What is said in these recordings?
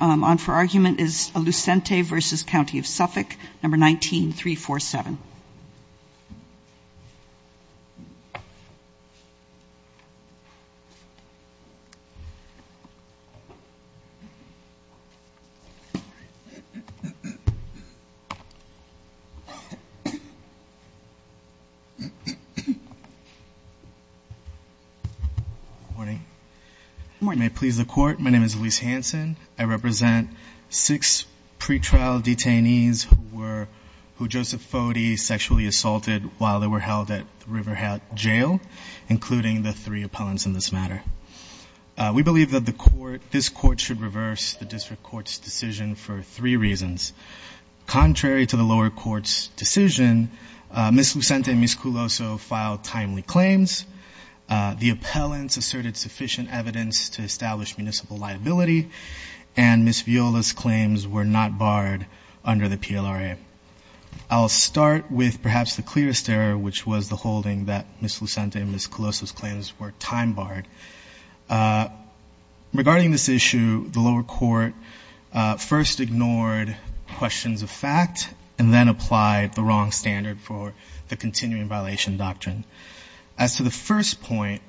on for argument is Lucente v. County of Suffolk, No. 19-347. Good morning. Good morning. May it please the court, my name is Luis Hanson. I represent six pretrial detainees who were, who Joseph Foti sexually assaulted while they were held at the Riverhead Jail, including the three appellants in this matter. We believe that this court should reverse the district court's decision for three reasons. Contrary to the lower court's decision, Ms. Lucente and Ms. Culoso filed timely claims. The appellants asserted sufficient evidence to establish municipal liability, and Ms. Viola's claims were not barred under the PLRA. I'll start with perhaps the clearest error, which was the holding that Ms. Lucente and Ms. Culoso's claims were time barred. Regarding this issue, the lower court first ignored questions of fact and then applied the wrong standard for the continuing violation doctrine. As to the first point,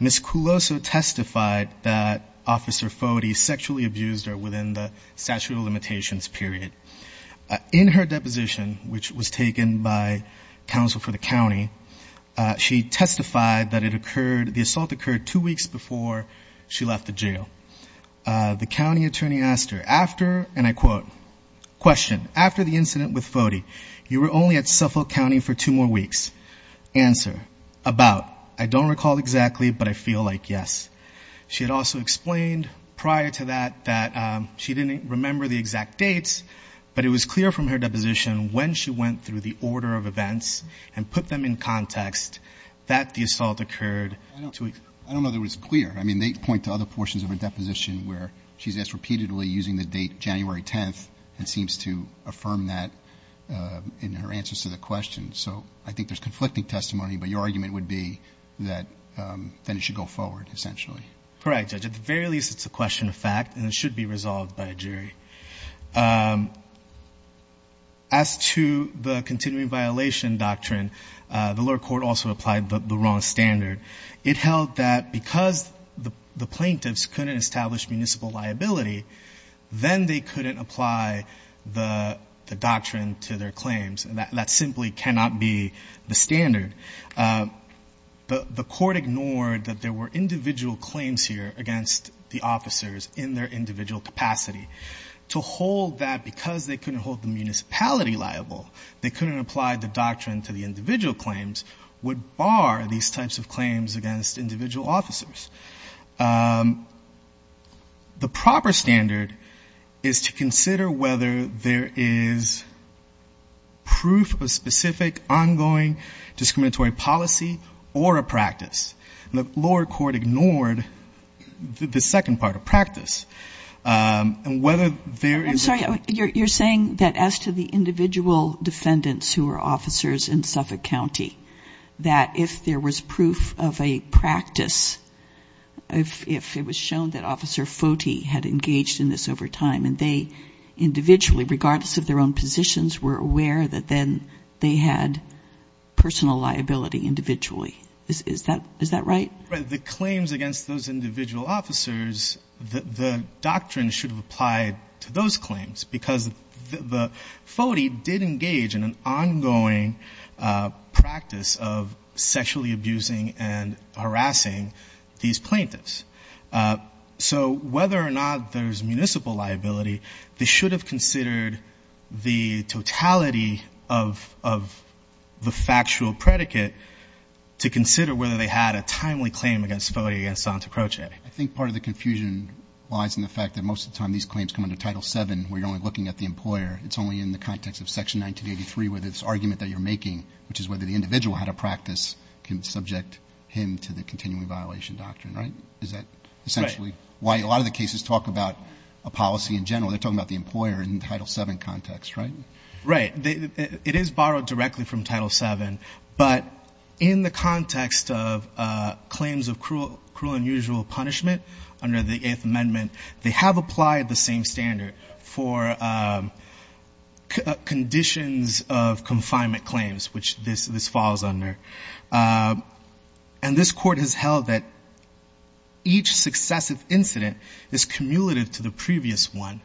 Ms. Culoso testified that Officer Foti sexually abused her within the statute of limitations period. In her deposition, which was taken by counsel for the county, she testified that the assault occurred two weeks before she left the jail. The county attorney asked her, after, and I quote, question, after the incident with Foti, you were only at Suffolk County for two more weeks. Answer, about, I don't recall exactly, but I feel like yes. She had also explained prior to that that she didn't remember the exact dates, but it was clear from her deposition when she went through the order of events and put them in context that the assault occurred. I don't know that it was clear. I mean, they point to other portions of her deposition where she's asked repeatedly using the date January 10th and seems to affirm that in her answers to the question. So I think there's conflicting testimony, but your argument would be that then it should go forward, essentially. Correct, Judge. At the very least, it's a question of fact, and it should be resolved by a jury. As to the continuing violation doctrine, the lower court also applied the wrong standard. It held that because the plaintiffs couldn't establish municipal liability, then they couldn't apply the doctrine to their claims. That simply cannot be the standard. The court ignored that there were individual claims here against the officers in their individual capacity. To hold that because they couldn't hold the municipality liable, they couldn't apply the doctrine to the individual claims, would bar these types of claims against individual officers. The proper standard is to consider whether there is proof of specific ongoing discriminatory policy or a practice. And the lower court ignored the second part of practice, and whether there is a- I'm sorry, you're saying that as to the individual defendants who are officers in Suffolk County, that if there was proof of a practice, if it was shown that Officer Foti had engaged in this over time, and they individually, regardless of their own positions, were aware that then they had personal liability individually. Is that right? Right. The claims against those individual officers, the doctrine should have applied to those claims, because Foti did engage in an ongoing practice of sexually abusing and harassing these plaintiffs. So whether or not there's municipal liability, they should have considered the totality of the factual predicate to consider whether they had a timely claim against Foti against Santa Croce. I think part of the confusion lies in the fact that most of the time these claims come under Title VII, where you're only looking at the employer. It's only in the context of Section 1983, where this argument that you're making, which is whether the individual had a practice, can subject him to the continuing violation doctrine, right? Is that essentially why a lot of the cases talk about a policy in general. They're talking about the employer in Title VII context, right? Right. It is borrowed directly from Title VII, but in the context of claims of cruel and unusual punishment under the Eighth Amendment, they have applied the same standard for conditions of confinement claims, which this falls under. And this court has held that each successive incident is cumulative to the previous one.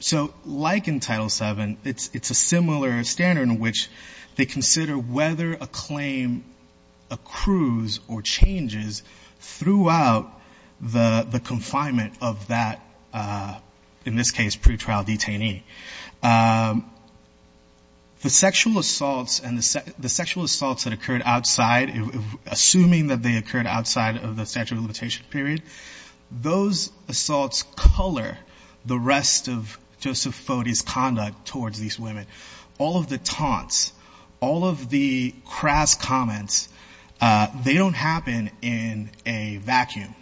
So like in Title VII, it's a similar standard in which they consider whether a claim accrues or changes throughout the confinement of that, in this case, pretrial detainee. The sexual assaults that occurred outside, assuming that they occurred outside of the statute of limitation period, those assaults color the rest of Joseph Foti's conduct towards these women. All of the taunts, all of the crass comments, they don't happen in a vacuum.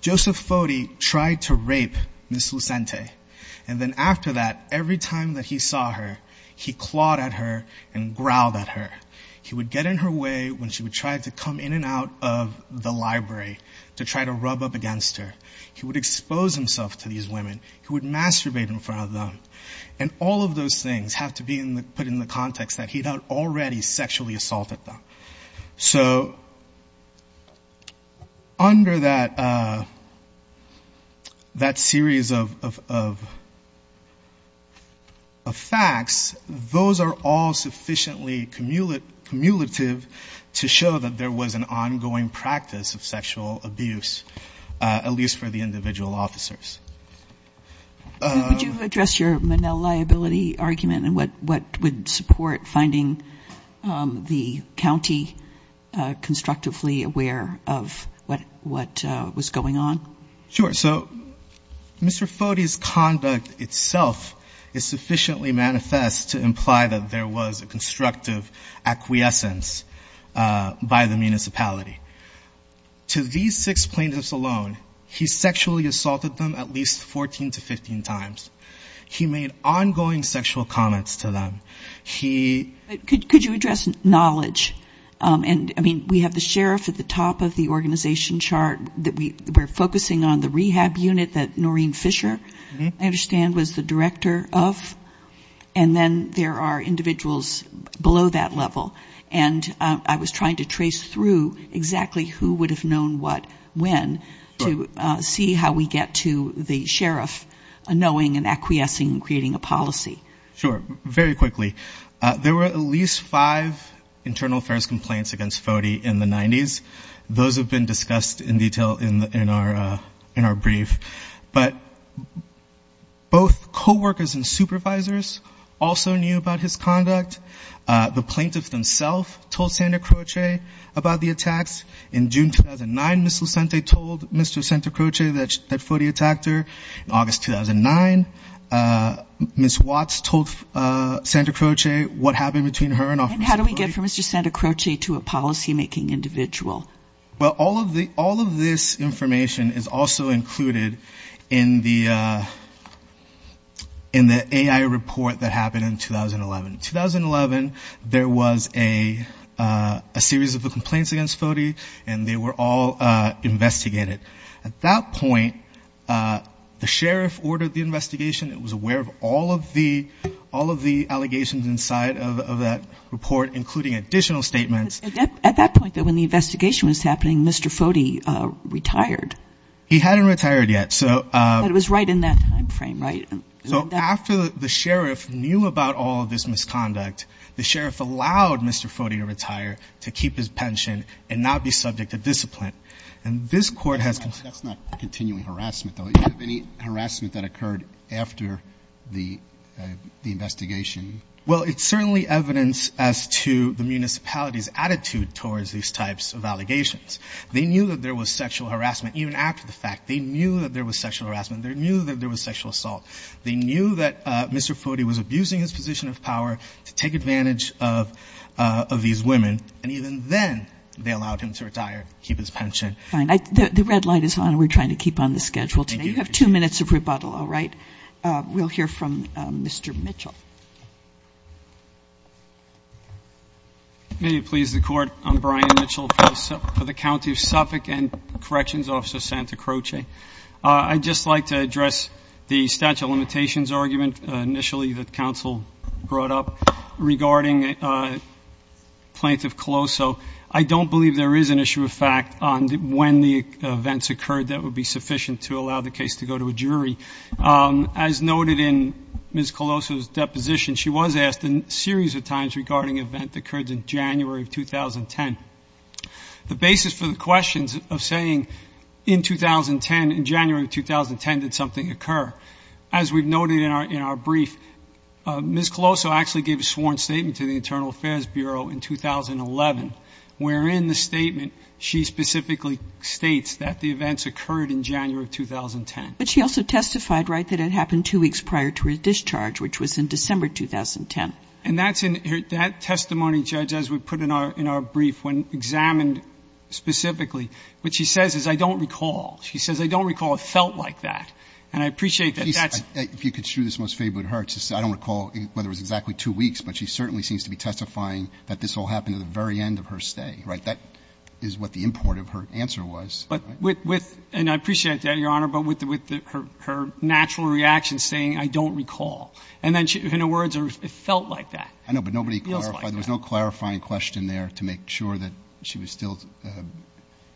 Joseph Foti tried to rape Ms. Lucente. And then after that, every time that he saw her, he clawed at her and growled at her. He would get in her way when she would try to come in and out of the library to try to rub up against her. He would expose himself to these women. He would masturbate in front of them. And all of those things have to be put in the context that he had already sexually assaulted them. So under that series of facts, those are all sufficiently cumulative to show that there was an ongoing practice of sexual abuse. At least for the individual officers. Would you address your Manel liability argument and what would support finding the county constructively aware of what was going on? Sure, so Mr. Foti's conduct itself is sufficiently manifest to imply that there was a constructive acquiescence by the municipality. To these six plaintiffs alone, he sexually assaulted them at least 14 to 15 times. He made ongoing sexual comments to them. He- Could you address knowledge? And I mean, we have the sheriff at the top of the organization chart. We're focusing on the rehab unit that Noreen Fisher, I understand, was the director of. And then there are individuals below that level. And I was trying to trace through exactly who would have known what, when, to see how we get to the sheriff knowing and acquiescing and creating a policy. Sure, very quickly. There were at least five internal affairs complaints against Foti in the 90s. Those have been discussed in detail in our brief. But both co-workers and supervisors also knew about his conduct. The plaintiffs themselves told Santa Croce about the attacks. In June 2009, Ms. Lucente told Mr. Santa Croce that Foti attacked her. In August 2009, Ms. Watts told Santa Croce what happened between her and Officer Foti. And how do we get from Mr. Santa Croce to a policymaking individual? Well, all of this information is also included in the AI report that happened in 2011. In 2011, there was a series of complaints against Foti, and they were all investigated. At that point, the sheriff ordered the investigation. It was aware of all of the allegations inside of that report, including additional statements. At that point, when the investigation was happening, Mr. Foti retired. He hadn't retired yet. But it was right in that time frame, right? So after the sheriff knew about all of this misconduct, the sheriff allowed Mr. Foti to retire to keep his pension and not be subject to discipline. And this court has- That's not continuing harassment, though. You have any harassment that occurred after the investigation? Well, it's certainly evidence as to the municipality's attitude towards these types of allegations. They knew that there was sexual harassment even after the fact. They knew that there was sexual harassment. They knew that there was sexual assault. They knew that Mr. Foti was abusing his position of power to take advantage of these women. And even then, they allowed him to retire to keep his pension. Fine. The red light is on. We're trying to keep on the schedule today. You have two minutes of rebuttal, all right? We'll hear from Mr. Mitchell. May it please the court. I'm Brian Mitchell for the County of Suffolk and Corrections Officer Santa Croce. I'd just like to address the statute of limitations argument initially that counsel brought up regarding Plaintiff Colosso. I don't believe there is an issue of fact on when the events occurred that would be sufficient to allow the case to go to a jury. As noted in Ms. Colosso's deposition, she was asked a series of times regarding an event that occurred in January of 2010. The basis for the questions of saying in 2010, in January of 2010, did something occur? As we've noted in our brief, Ms. Colosso actually gave a sworn statement to the Internal Affairs Bureau in 2011, wherein the statement, she specifically states that the events occurred in January of 2010. But she also testified, right, that it happened two weeks prior to her discharge, which was in December 2010. And that testimony, Judge, as we put in our brief, when examined specifically, what she says is, I don't recall. She says, I don't recall it felt like that. And I appreciate that. If you could show this most favorably to her, I don't recall whether it was exactly two weeks, but she certainly seems to be testifying that this all happened at the very end of her stay, right? That is what the import of her answer was. And I appreciate that, Your Honor, but with her natural reaction saying, I don't recall. And then in her words, it felt like that. I know, but nobody clarified. It feels like that. There was no clarifying question there to make sure that she was still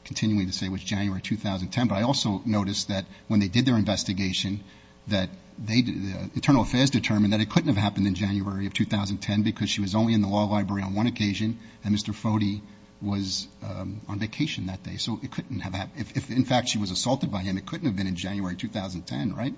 continuing to say it was January 2010. But I also noticed that when they did their investigation, that they did the internal affairs determined that it couldn't have happened in January of 2010 because she was only in the law library on one occasion and Mr. Foti was on vacation that day. So it couldn't have happened. If, in fact, she was assaulted by him, it couldn't have been in January 2010, right?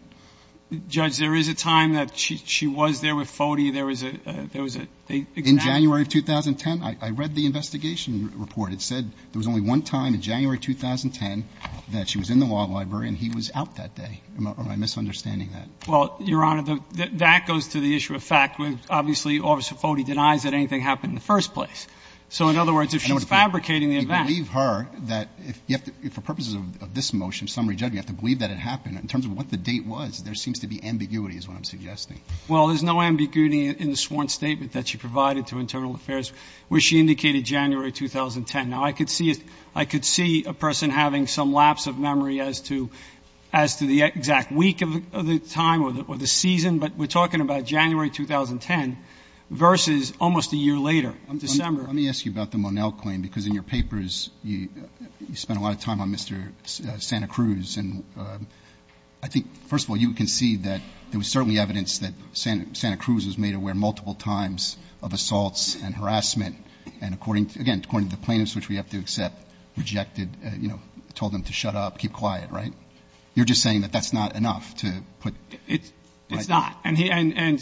Judge, there is a time that she was there with Foti. There was a, there was a example. In January of 2010. I read the investigation report. It said there was only one time in January 2010 that she was in the law library and he was out that day. Am I misunderstanding that? Well, Your Honor, that goes to the issue of fact. Obviously, Officer Foti denies that anything happened in the first place. So in other words, if she's fabricating the event. I believe her that if you have to, for purposes of this motion, summary judgment, you have to believe that it happened. In terms of what the date was, there seems to be ambiguity is what I'm suggesting. Well, there's no ambiguity in the sworn statement that she provided to internal affairs where she indicated January 2010. Now, I could see a person having some lapse of memory as to the exact week of the time or the season, but we're talking about January 2010 versus almost a year later, December. Let me ask you about the Monell claim, because in your papers you spent a lot of time on Mr. Santa Cruz. And I think, first of all, you concede that there was certainly evidence that Santa Cruz was aware of the incident. It's not. And, again, according to the plaintiffs, which we have to accept, rejected, you know, told them to shut up, keep quiet, right? You're just saying that that's not enough to put. It's not. And he and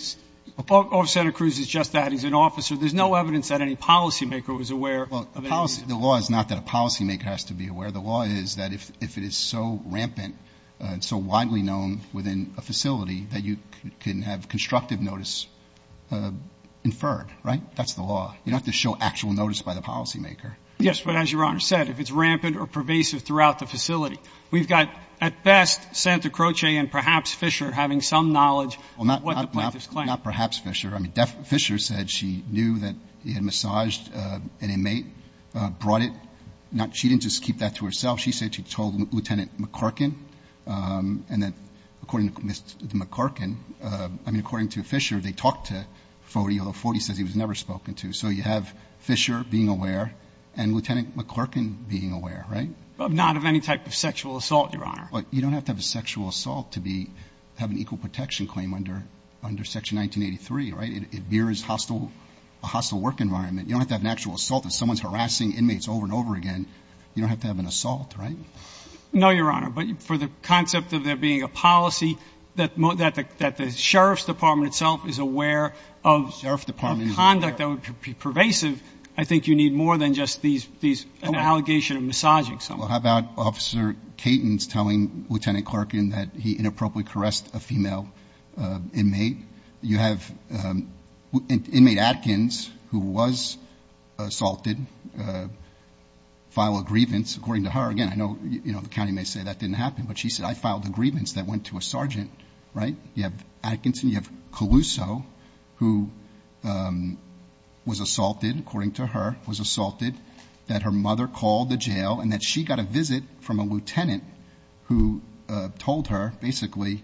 Officer Santa Cruz is just that. He's an officer. There's no evidence that any policymaker was aware of any incident. Well, the law is not that a policymaker has to be aware. The law is that if it is so rampant and so widely known within a facility that you can have constructive notice inferred, right? That's the law. You don't have to show actual notice by the policymaker. Yes, but as Your Honor said, if it's rampant or pervasive throughout the facility, we've got, at best, Santa Croce and perhaps Fisher having some knowledge of what the plaintiffs claim. Well, not perhaps Fisher. I mean, Fisher said she knew that he had massaged an inmate, brought it. She didn't just keep that to herself. She said she told Lieutenant McCorkin. And then, according to Mr. McCorkin, I mean, according to Fisher, they talked to Foti, although Foti says he was never spoken to. So you have Fisher being aware and Lieutenant McCorkin being aware, right? But not of any type of sexual assault, Your Honor. You don't have to have a sexual assault to have an equal protection claim under Section 1983, right? It mirrors a hostile work environment. You don't have to have an actual assault. If someone's harassing inmates over and over again, you don't have to have an assault, right? No, Your Honor. But for the concept of there being a policy that the sheriff's department itself is aware of conduct that would be pervasive, I think you need more than just an allegation of massaging someone. Well, how about Officer Caton's telling Lieutenant McCorkin that he inappropriately caressed a female inmate? You have inmate Atkins, who was assaulted, file a grievance. According to her, again, I know the county may say that didn't happen, but she said, I filed a grievance that went to a sergeant, right? You have Atkinson, you have Caluso, who was assaulted, according to her, was assaulted, that her mother called the jail and that she got a visit from a lieutenant who told her, basically,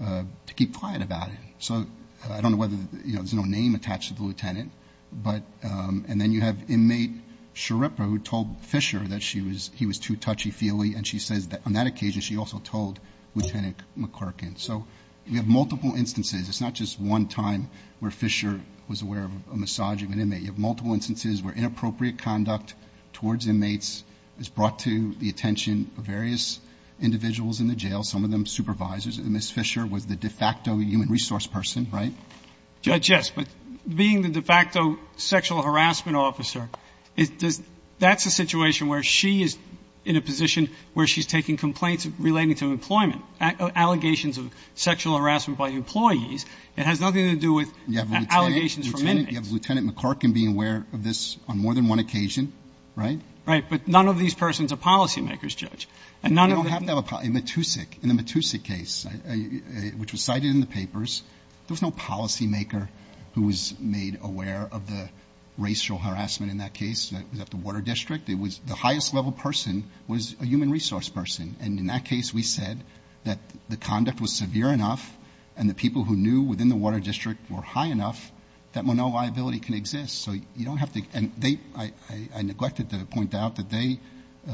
to keep quiet about it. So I don't know whether, you know, there's no name attached to the lieutenant, and then you have inmate Sciarippa, who told Fisher that he was too touchy-feely, and she says that on that occasion she also told Lieutenant McCorkin. So you have multiple instances. It's not just one time where Fisher was aware of a massage of an inmate. You have multiple instances where inappropriate conduct towards inmates is brought to the attention of various individuals in the jail, some of them supervisors, and Ms. Fisher was the de facto human resource person, right? Judge, yes. But being the de facto sexual harassment officer, that's a situation where she is in a position where she's taking complaints relating to employment, allegations of sexual harassment by employees. It has nothing to do with allegations from inmates. You have Lieutenant McCorkin being aware of this on more than one occasion, right? Right. But none of these persons are policymakers, Judge. You don't have to have a policymaker. In the Matusik case, which was cited in the papers, there was no policymaker who was made aware of the racial harassment in that case. It was at the Water District. It was the highest level person was a human resource person, and in that case we said that the conduct was severe enough and the people who knew within the Water District were high enough that no liability can exist. I neglected to point out that they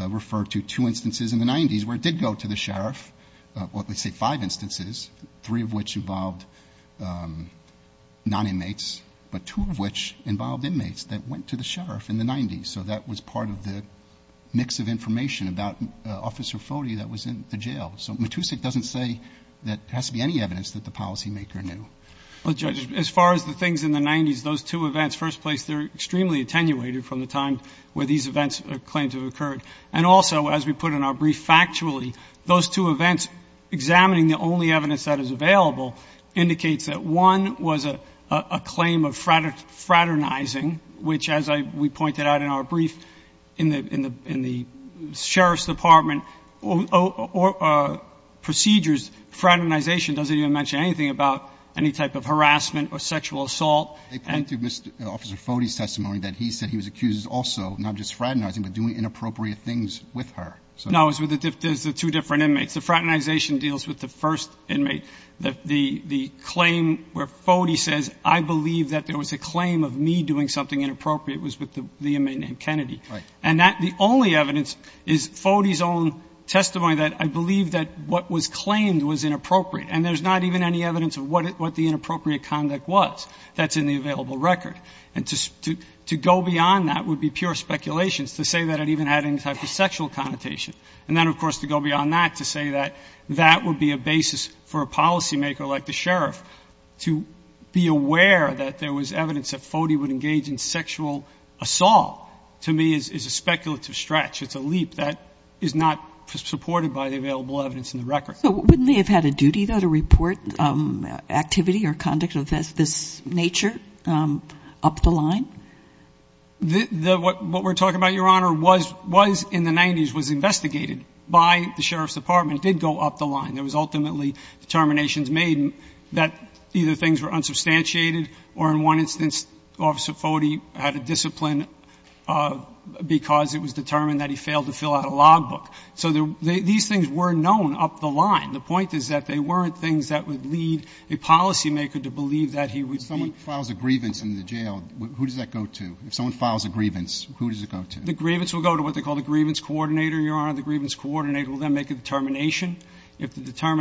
refer to two instances in the 90s where it did go to the sheriff, let's say five instances, three of which involved non-inmates, but two of which involved inmates that went to the sheriff in the 90s. So that was part of the mix of information about Officer Foti that was in the jail. So Matusik doesn't say that there has to be any evidence that the policymaker knew. Well, Judge, as far as the things in the 90s, those two events, first place, they're extremely attenuated from the time where these events or claims have occurred. And also, as we put in our brief factually, those two events examining the only evidence that is available indicates that one was a claim of fraternizing, which as we pointed out in our brief in the sheriff's department, or procedures, fraternization doesn't even mention anything about any type of harassment or sexual assault. They point to Officer Foti's testimony that he said he was accused also, not just fraternizing, but doing inappropriate things with her. No, it was with the two different inmates. The fraternization deals with the first inmate. The claim where Foti says, I believe that there was a claim of me doing something inappropriate was with the inmate named Kennedy. Right. And that the only evidence is Foti's own testimony that I believe that what was claimed was inappropriate. And there's not even any evidence of what the inappropriate conduct was that's in the available record. And to go beyond that would be pure speculations to say that it even had any type of sexual connotation. And then, of course, to go beyond that to say that that would be a basis for a policymaker like the sheriff to be aware that there was evidence that Foti would engage in sexual assault, to me is a speculative stretch. It's a leap that is not supported by the available evidence in the record. So wouldn't they have had a duty, though, to report activity or conduct of this nature up the line? What we're talking about, Your Honor, was in the 90s, was investigated by the sheriff's department. It did go up the line. There was ultimately determinations made that either things were unsubstantiated or, in one instance, Officer Foti had a discipline because it was determined that he failed to fill out a logbook. So these things were known up the line. The point is that they weren't things that would lead a policymaker to believe that he would be ---- If someone files a grievance in the jail, who does that go to? If someone files a grievance, who does it go to? The grievance will go to what they call the grievance coordinator, Your Honor. The grievance coordinator will then make a determination. No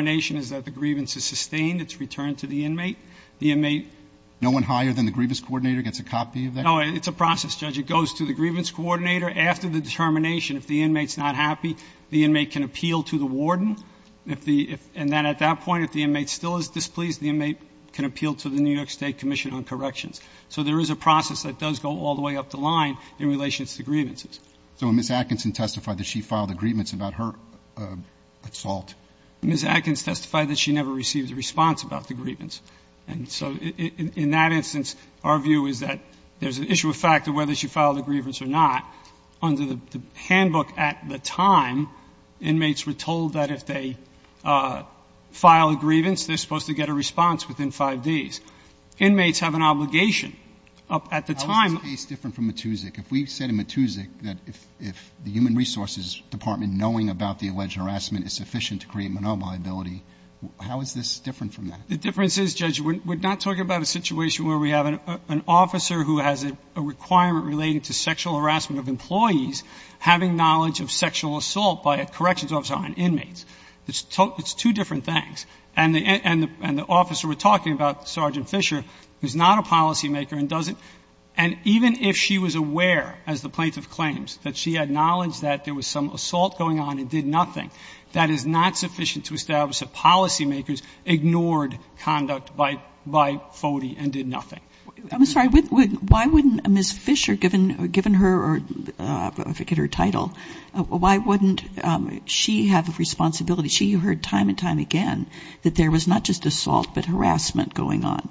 one higher than the grievance coordinator gets a copy of that? No. It's a process, Judge. It goes to the grievance coordinator. After the determination, if the inmate's not happy, the inmate can appeal to the warden. And then at that point, if the inmate still is displeased, the inmate can appeal to the New York State Commission on Corrections. So there is a process that does go all the way up the line in relation to grievances. So when Ms. Atkinson testified that she filed a grievance about her assault? Ms. Atkins testified that she never received a response about the grievance. And so in that instance, our view is that there is an issue of fact of whether she filed a grievance or not. Under the handbook at the time, inmates were told that if they file a grievance, they're supposed to get a response within 5 days. Inmates have an obligation. At the time ---- How is this case different from Matusik? How is this different from that? The difference is, Judge, we're not talking about a situation where we have an officer who has a requirement relating to sexual harassment of employees having knowledge of sexual assault by a corrections officer on inmates. It's two different things. And the officer we're talking about, Sergeant Fisher, is not a policymaker and doesn't ---- and even if she was aware, as the plaintiff claims, that she had sufficient to establish that policymakers ignored conduct by FODI and did nothing. I'm sorry. Why wouldn't Ms. Fisher, given her title, why wouldn't she have a responsibility? She heard time and time again that there was not just assault but harassment going on.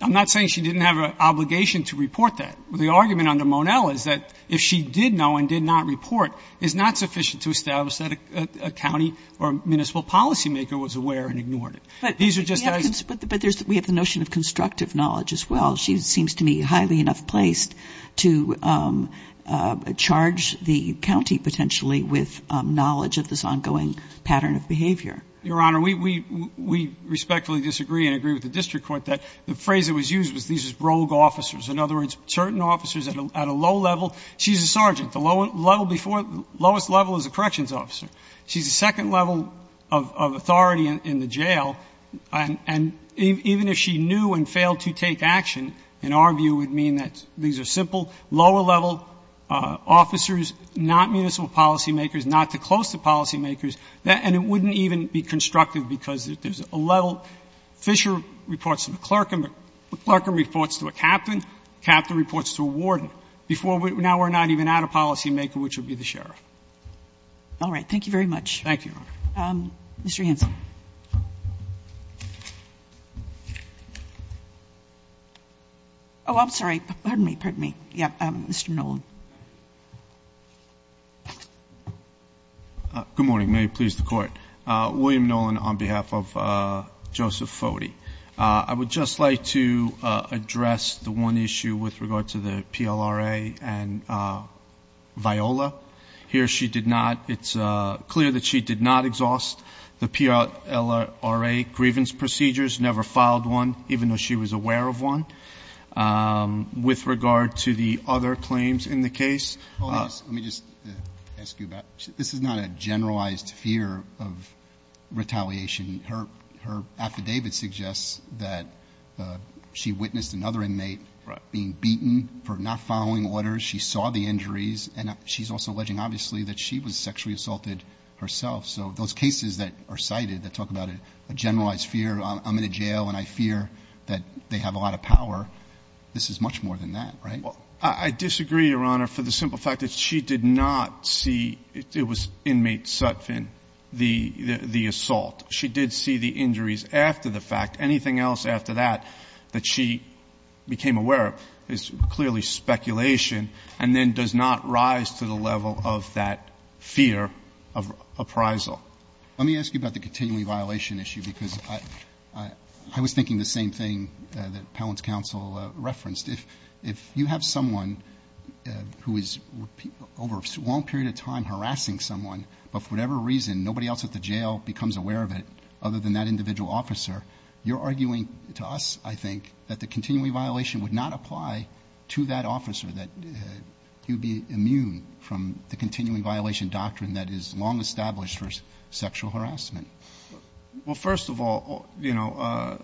I'm not saying she didn't have an obligation to report that. The argument under Monell is that if she did know and did not report, it's not sufficient to establish that a county or municipal policymaker was aware and ignored it. These are just as ---- But we have the notion of constructive knowledge as well. She seems to me highly enough placed to charge the county potentially with knowledge of this ongoing pattern of behavior. Your Honor, we respectfully disagree and agree with the district court that the phrase that was used was these are rogue officers. In other words, certain officers at a low level, she's a sergeant. The lowest level is a corrections officer. She's the second level of authority in the jail. And even if she knew and failed to take action, in our view, it would mean that these are simple, lower-level officers, not municipal policymakers, not too close to policymakers, and it wouldn't even be constructive because there's a level. Fisher reports to the clerk and the clerk reports to a captain, the captain reports to a warden. Now we're not even at a policymaker, which would be the sheriff. All right. Thank you very much. Thank you, Your Honor. Mr. Hanson. Oh, I'm sorry. Pardon me, pardon me. Yeah, Mr. Nolan. Good morning. May it please the Court. William Nolan on behalf of Joseph Foti. I would just like to address the one issue with regard to the PLRA and Viola. Here she did not, it's clear that she did not exhaust the PLRA grievance procedures, never filed one, even though she was aware of one. With regard to the other claims in the case. Let me just ask you about, this is not a generalized fear of retaliation. Her affidavit suggests that she witnessed another inmate being beaten for not following orders. She saw the injuries, and she's also alleging, obviously, that she was sexually assaulted herself. So those cases that are cited that talk about a generalized fear, I'm in a jail, and I fear that they have a lot of power, this is much more than that, right? I disagree, Your Honor, for the simple fact that she did not see it was inmate Sutphin, the assault. She did see the injuries after the fact. Anything else after that that she became aware of is clearly speculation, and then does not rise to the level of that fear of appraisal. Let me ask you about the continuing violation issue, because I was thinking the same thing that Appellant's counsel referenced. If you have someone who is over a long period of time harassing someone, but for whatever reason nobody else at the jail becomes aware of it other than that individual officer, you're arguing to us, I think, that the continuing violation would not apply to that officer, that you'd be immune from the continuing violation doctrine that is long established for sexual harassment. Well, first of all, you know,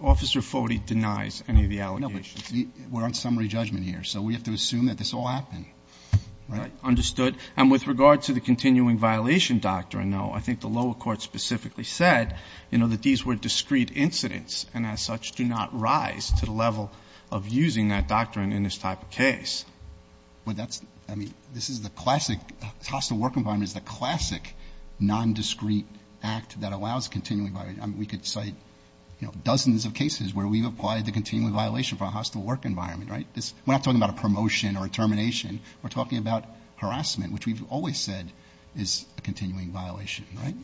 Officer Foti denies any of the allegations. No, but we're on summary judgment here, so we have to assume that this all happened. Right. Understood. And with regard to the continuing violation doctrine, though, I think the lower court specifically said, you know, that these were discrete incidents, and as such do not rise to the level of using that doctrine in this type of case. Well, that's, I mean, this is the classic, hostile work environment is the classic nondiscrete act that allows continuing violation. I mean, we could cite, you know, dozens of cases where we've applied the continuing violation for a hostile work environment, right? We're not talking about a promotion or a termination. We're talking about harassment, which we've always said is a continuing violation, right?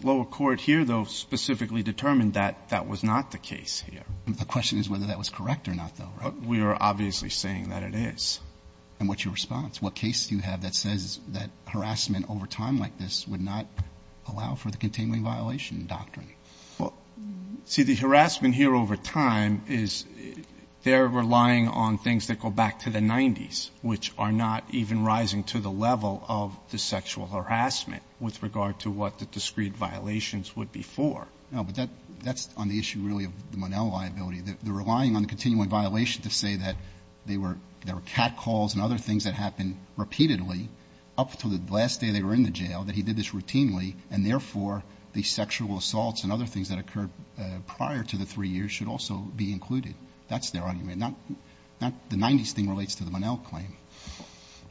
The lower court here, though, specifically determined that that was not the case here. The question is whether that was correct or not, though, right? We are obviously saying that it is. And what's your response? What case do you have that says that harassment over time like this would not allow for the continuing violation doctrine? Well, see, the harassment here over time is they're relying on things that go back to the 90s, which are not even rising to the level of the sexual harassment with regard to what the discrete violations would be for. No, but that's on the issue really of the Monell liability. They're relying on the continuing violation to say that there were catcalls and other things that happened repeatedly up to the last day they were in the jail, that he did this routinely, and therefore, the sexual assaults and other things that occurred prior to the 3 years should also be included. That's their argument. The 90s thing relates to the Monell claim.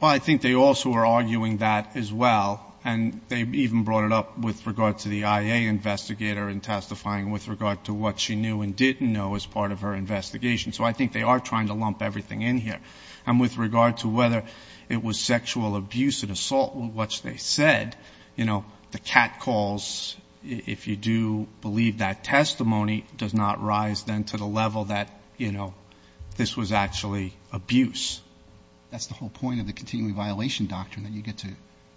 Well, I think they also are arguing that as well. And they even brought it up with regard to the IA investigator in testifying with regard to what she knew and didn't know as part of her investigation. So I think they are trying to lump everything in here. And with regard to whether it was sexual abuse and assault, which they said, you know, the catcalls, if you do believe that testimony, does not rise then to the level that, you know, this was actually abuse. That's the whole point of the continuing violation doctrine, that you get to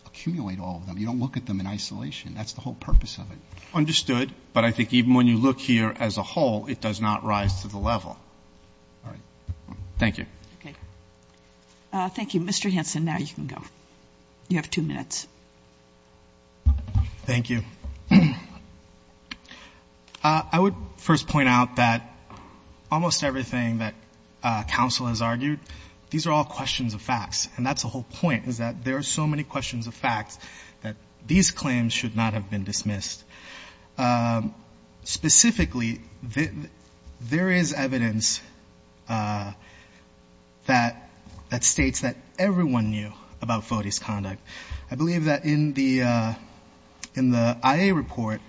accumulate all of them. You don't look at them in isolation. That's the whole purpose of it. Understood. But I think even when you look here as a whole, it does not rise to the level. All right. Thank you. Okay. Thank you. Mr. Hanson, now you can go. You have two minutes. Thank you. I would first point out that almost everything that counsel has argued, these are all questions of facts. And that's the whole point, is that there are so many questions of facts that these claims should not have been dismissed. Specifically, there is evidence that states that everyone knew about Foti's conduct. I believe that in the IA report,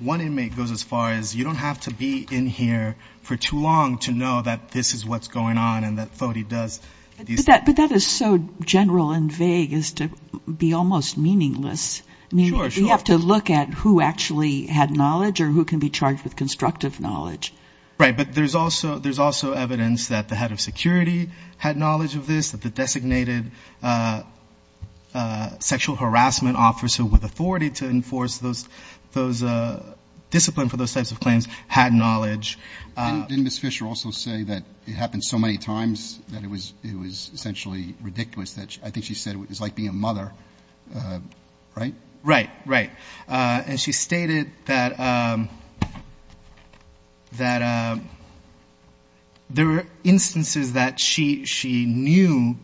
one inmate goes as far as, you don't have to be in here for too long to know that this is what's going on and that Foti does these things. But that is so general and vague as to be almost meaningless. Sure, sure. I mean, you have to look at who actually had knowledge or who can be charged with constructive knowledge. Right. But there's also evidence that the head of security had knowledge of this, that the sexual harassment officer with authority to enforce those discipline for those types of claims had knowledge. Didn't Ms. Fisher also say that it happened so many times that it was essentially ridiculous? I think she said it was like being a mother, right? Right, right. And she stated that there were instances that she knew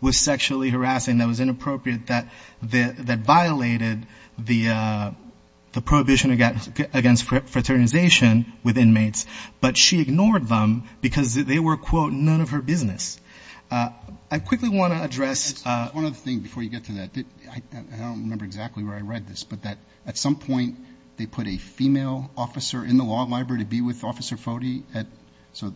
was sexually harassing that was inappropriate that violated the prohibition against fraternization with inmates. But she ignored them because they were, quote, none of her business. I quickly want to address one other thing before you get to that. I don't remember exactly where I read this, but that at some point they put a female officer in the law library to be with Officer Foti. So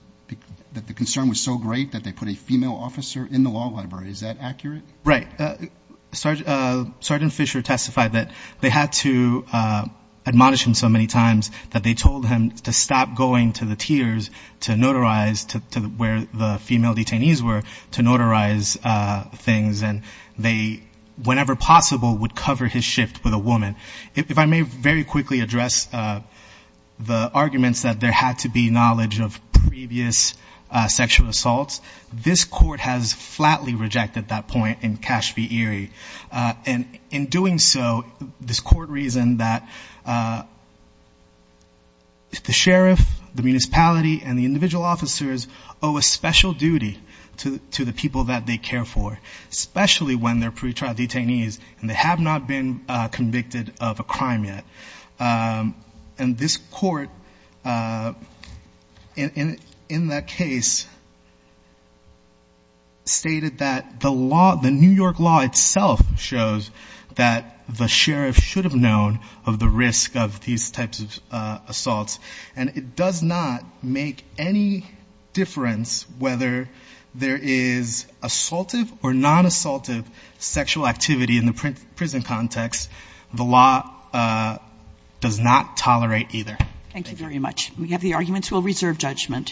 the concern was so great that they put a female officer in the law library. Is that accurate? Right. Sergeant Fisher testified that they had to admonish him so many times that they told him to stop going to the tiers to notarize, to where the female detainees were, to notarize things. And they, whenever possible, would cover his shift with a woman. If I may very quickly address the arguments that there had to be knowledge of sexual assaults, this court has flatly rejected that point in Cache v. Erie. And in doing so, this court reasoned that the sheriff, the municipality, and the individual officers owe a special duty to the people that they care for, especially when they're pretrial detainees and they have not been convicted of a crime yet. And this court, in that case, stated that the law, the New York law itself shows that the sheriff should have known of the risk of these types of assaults. And it does not make any difference whether there is assaultive or non-assaultive sexual activity in the prison context. The law does not tolerate either. Thank you very much. We have the arguments. We'll reserve judgment.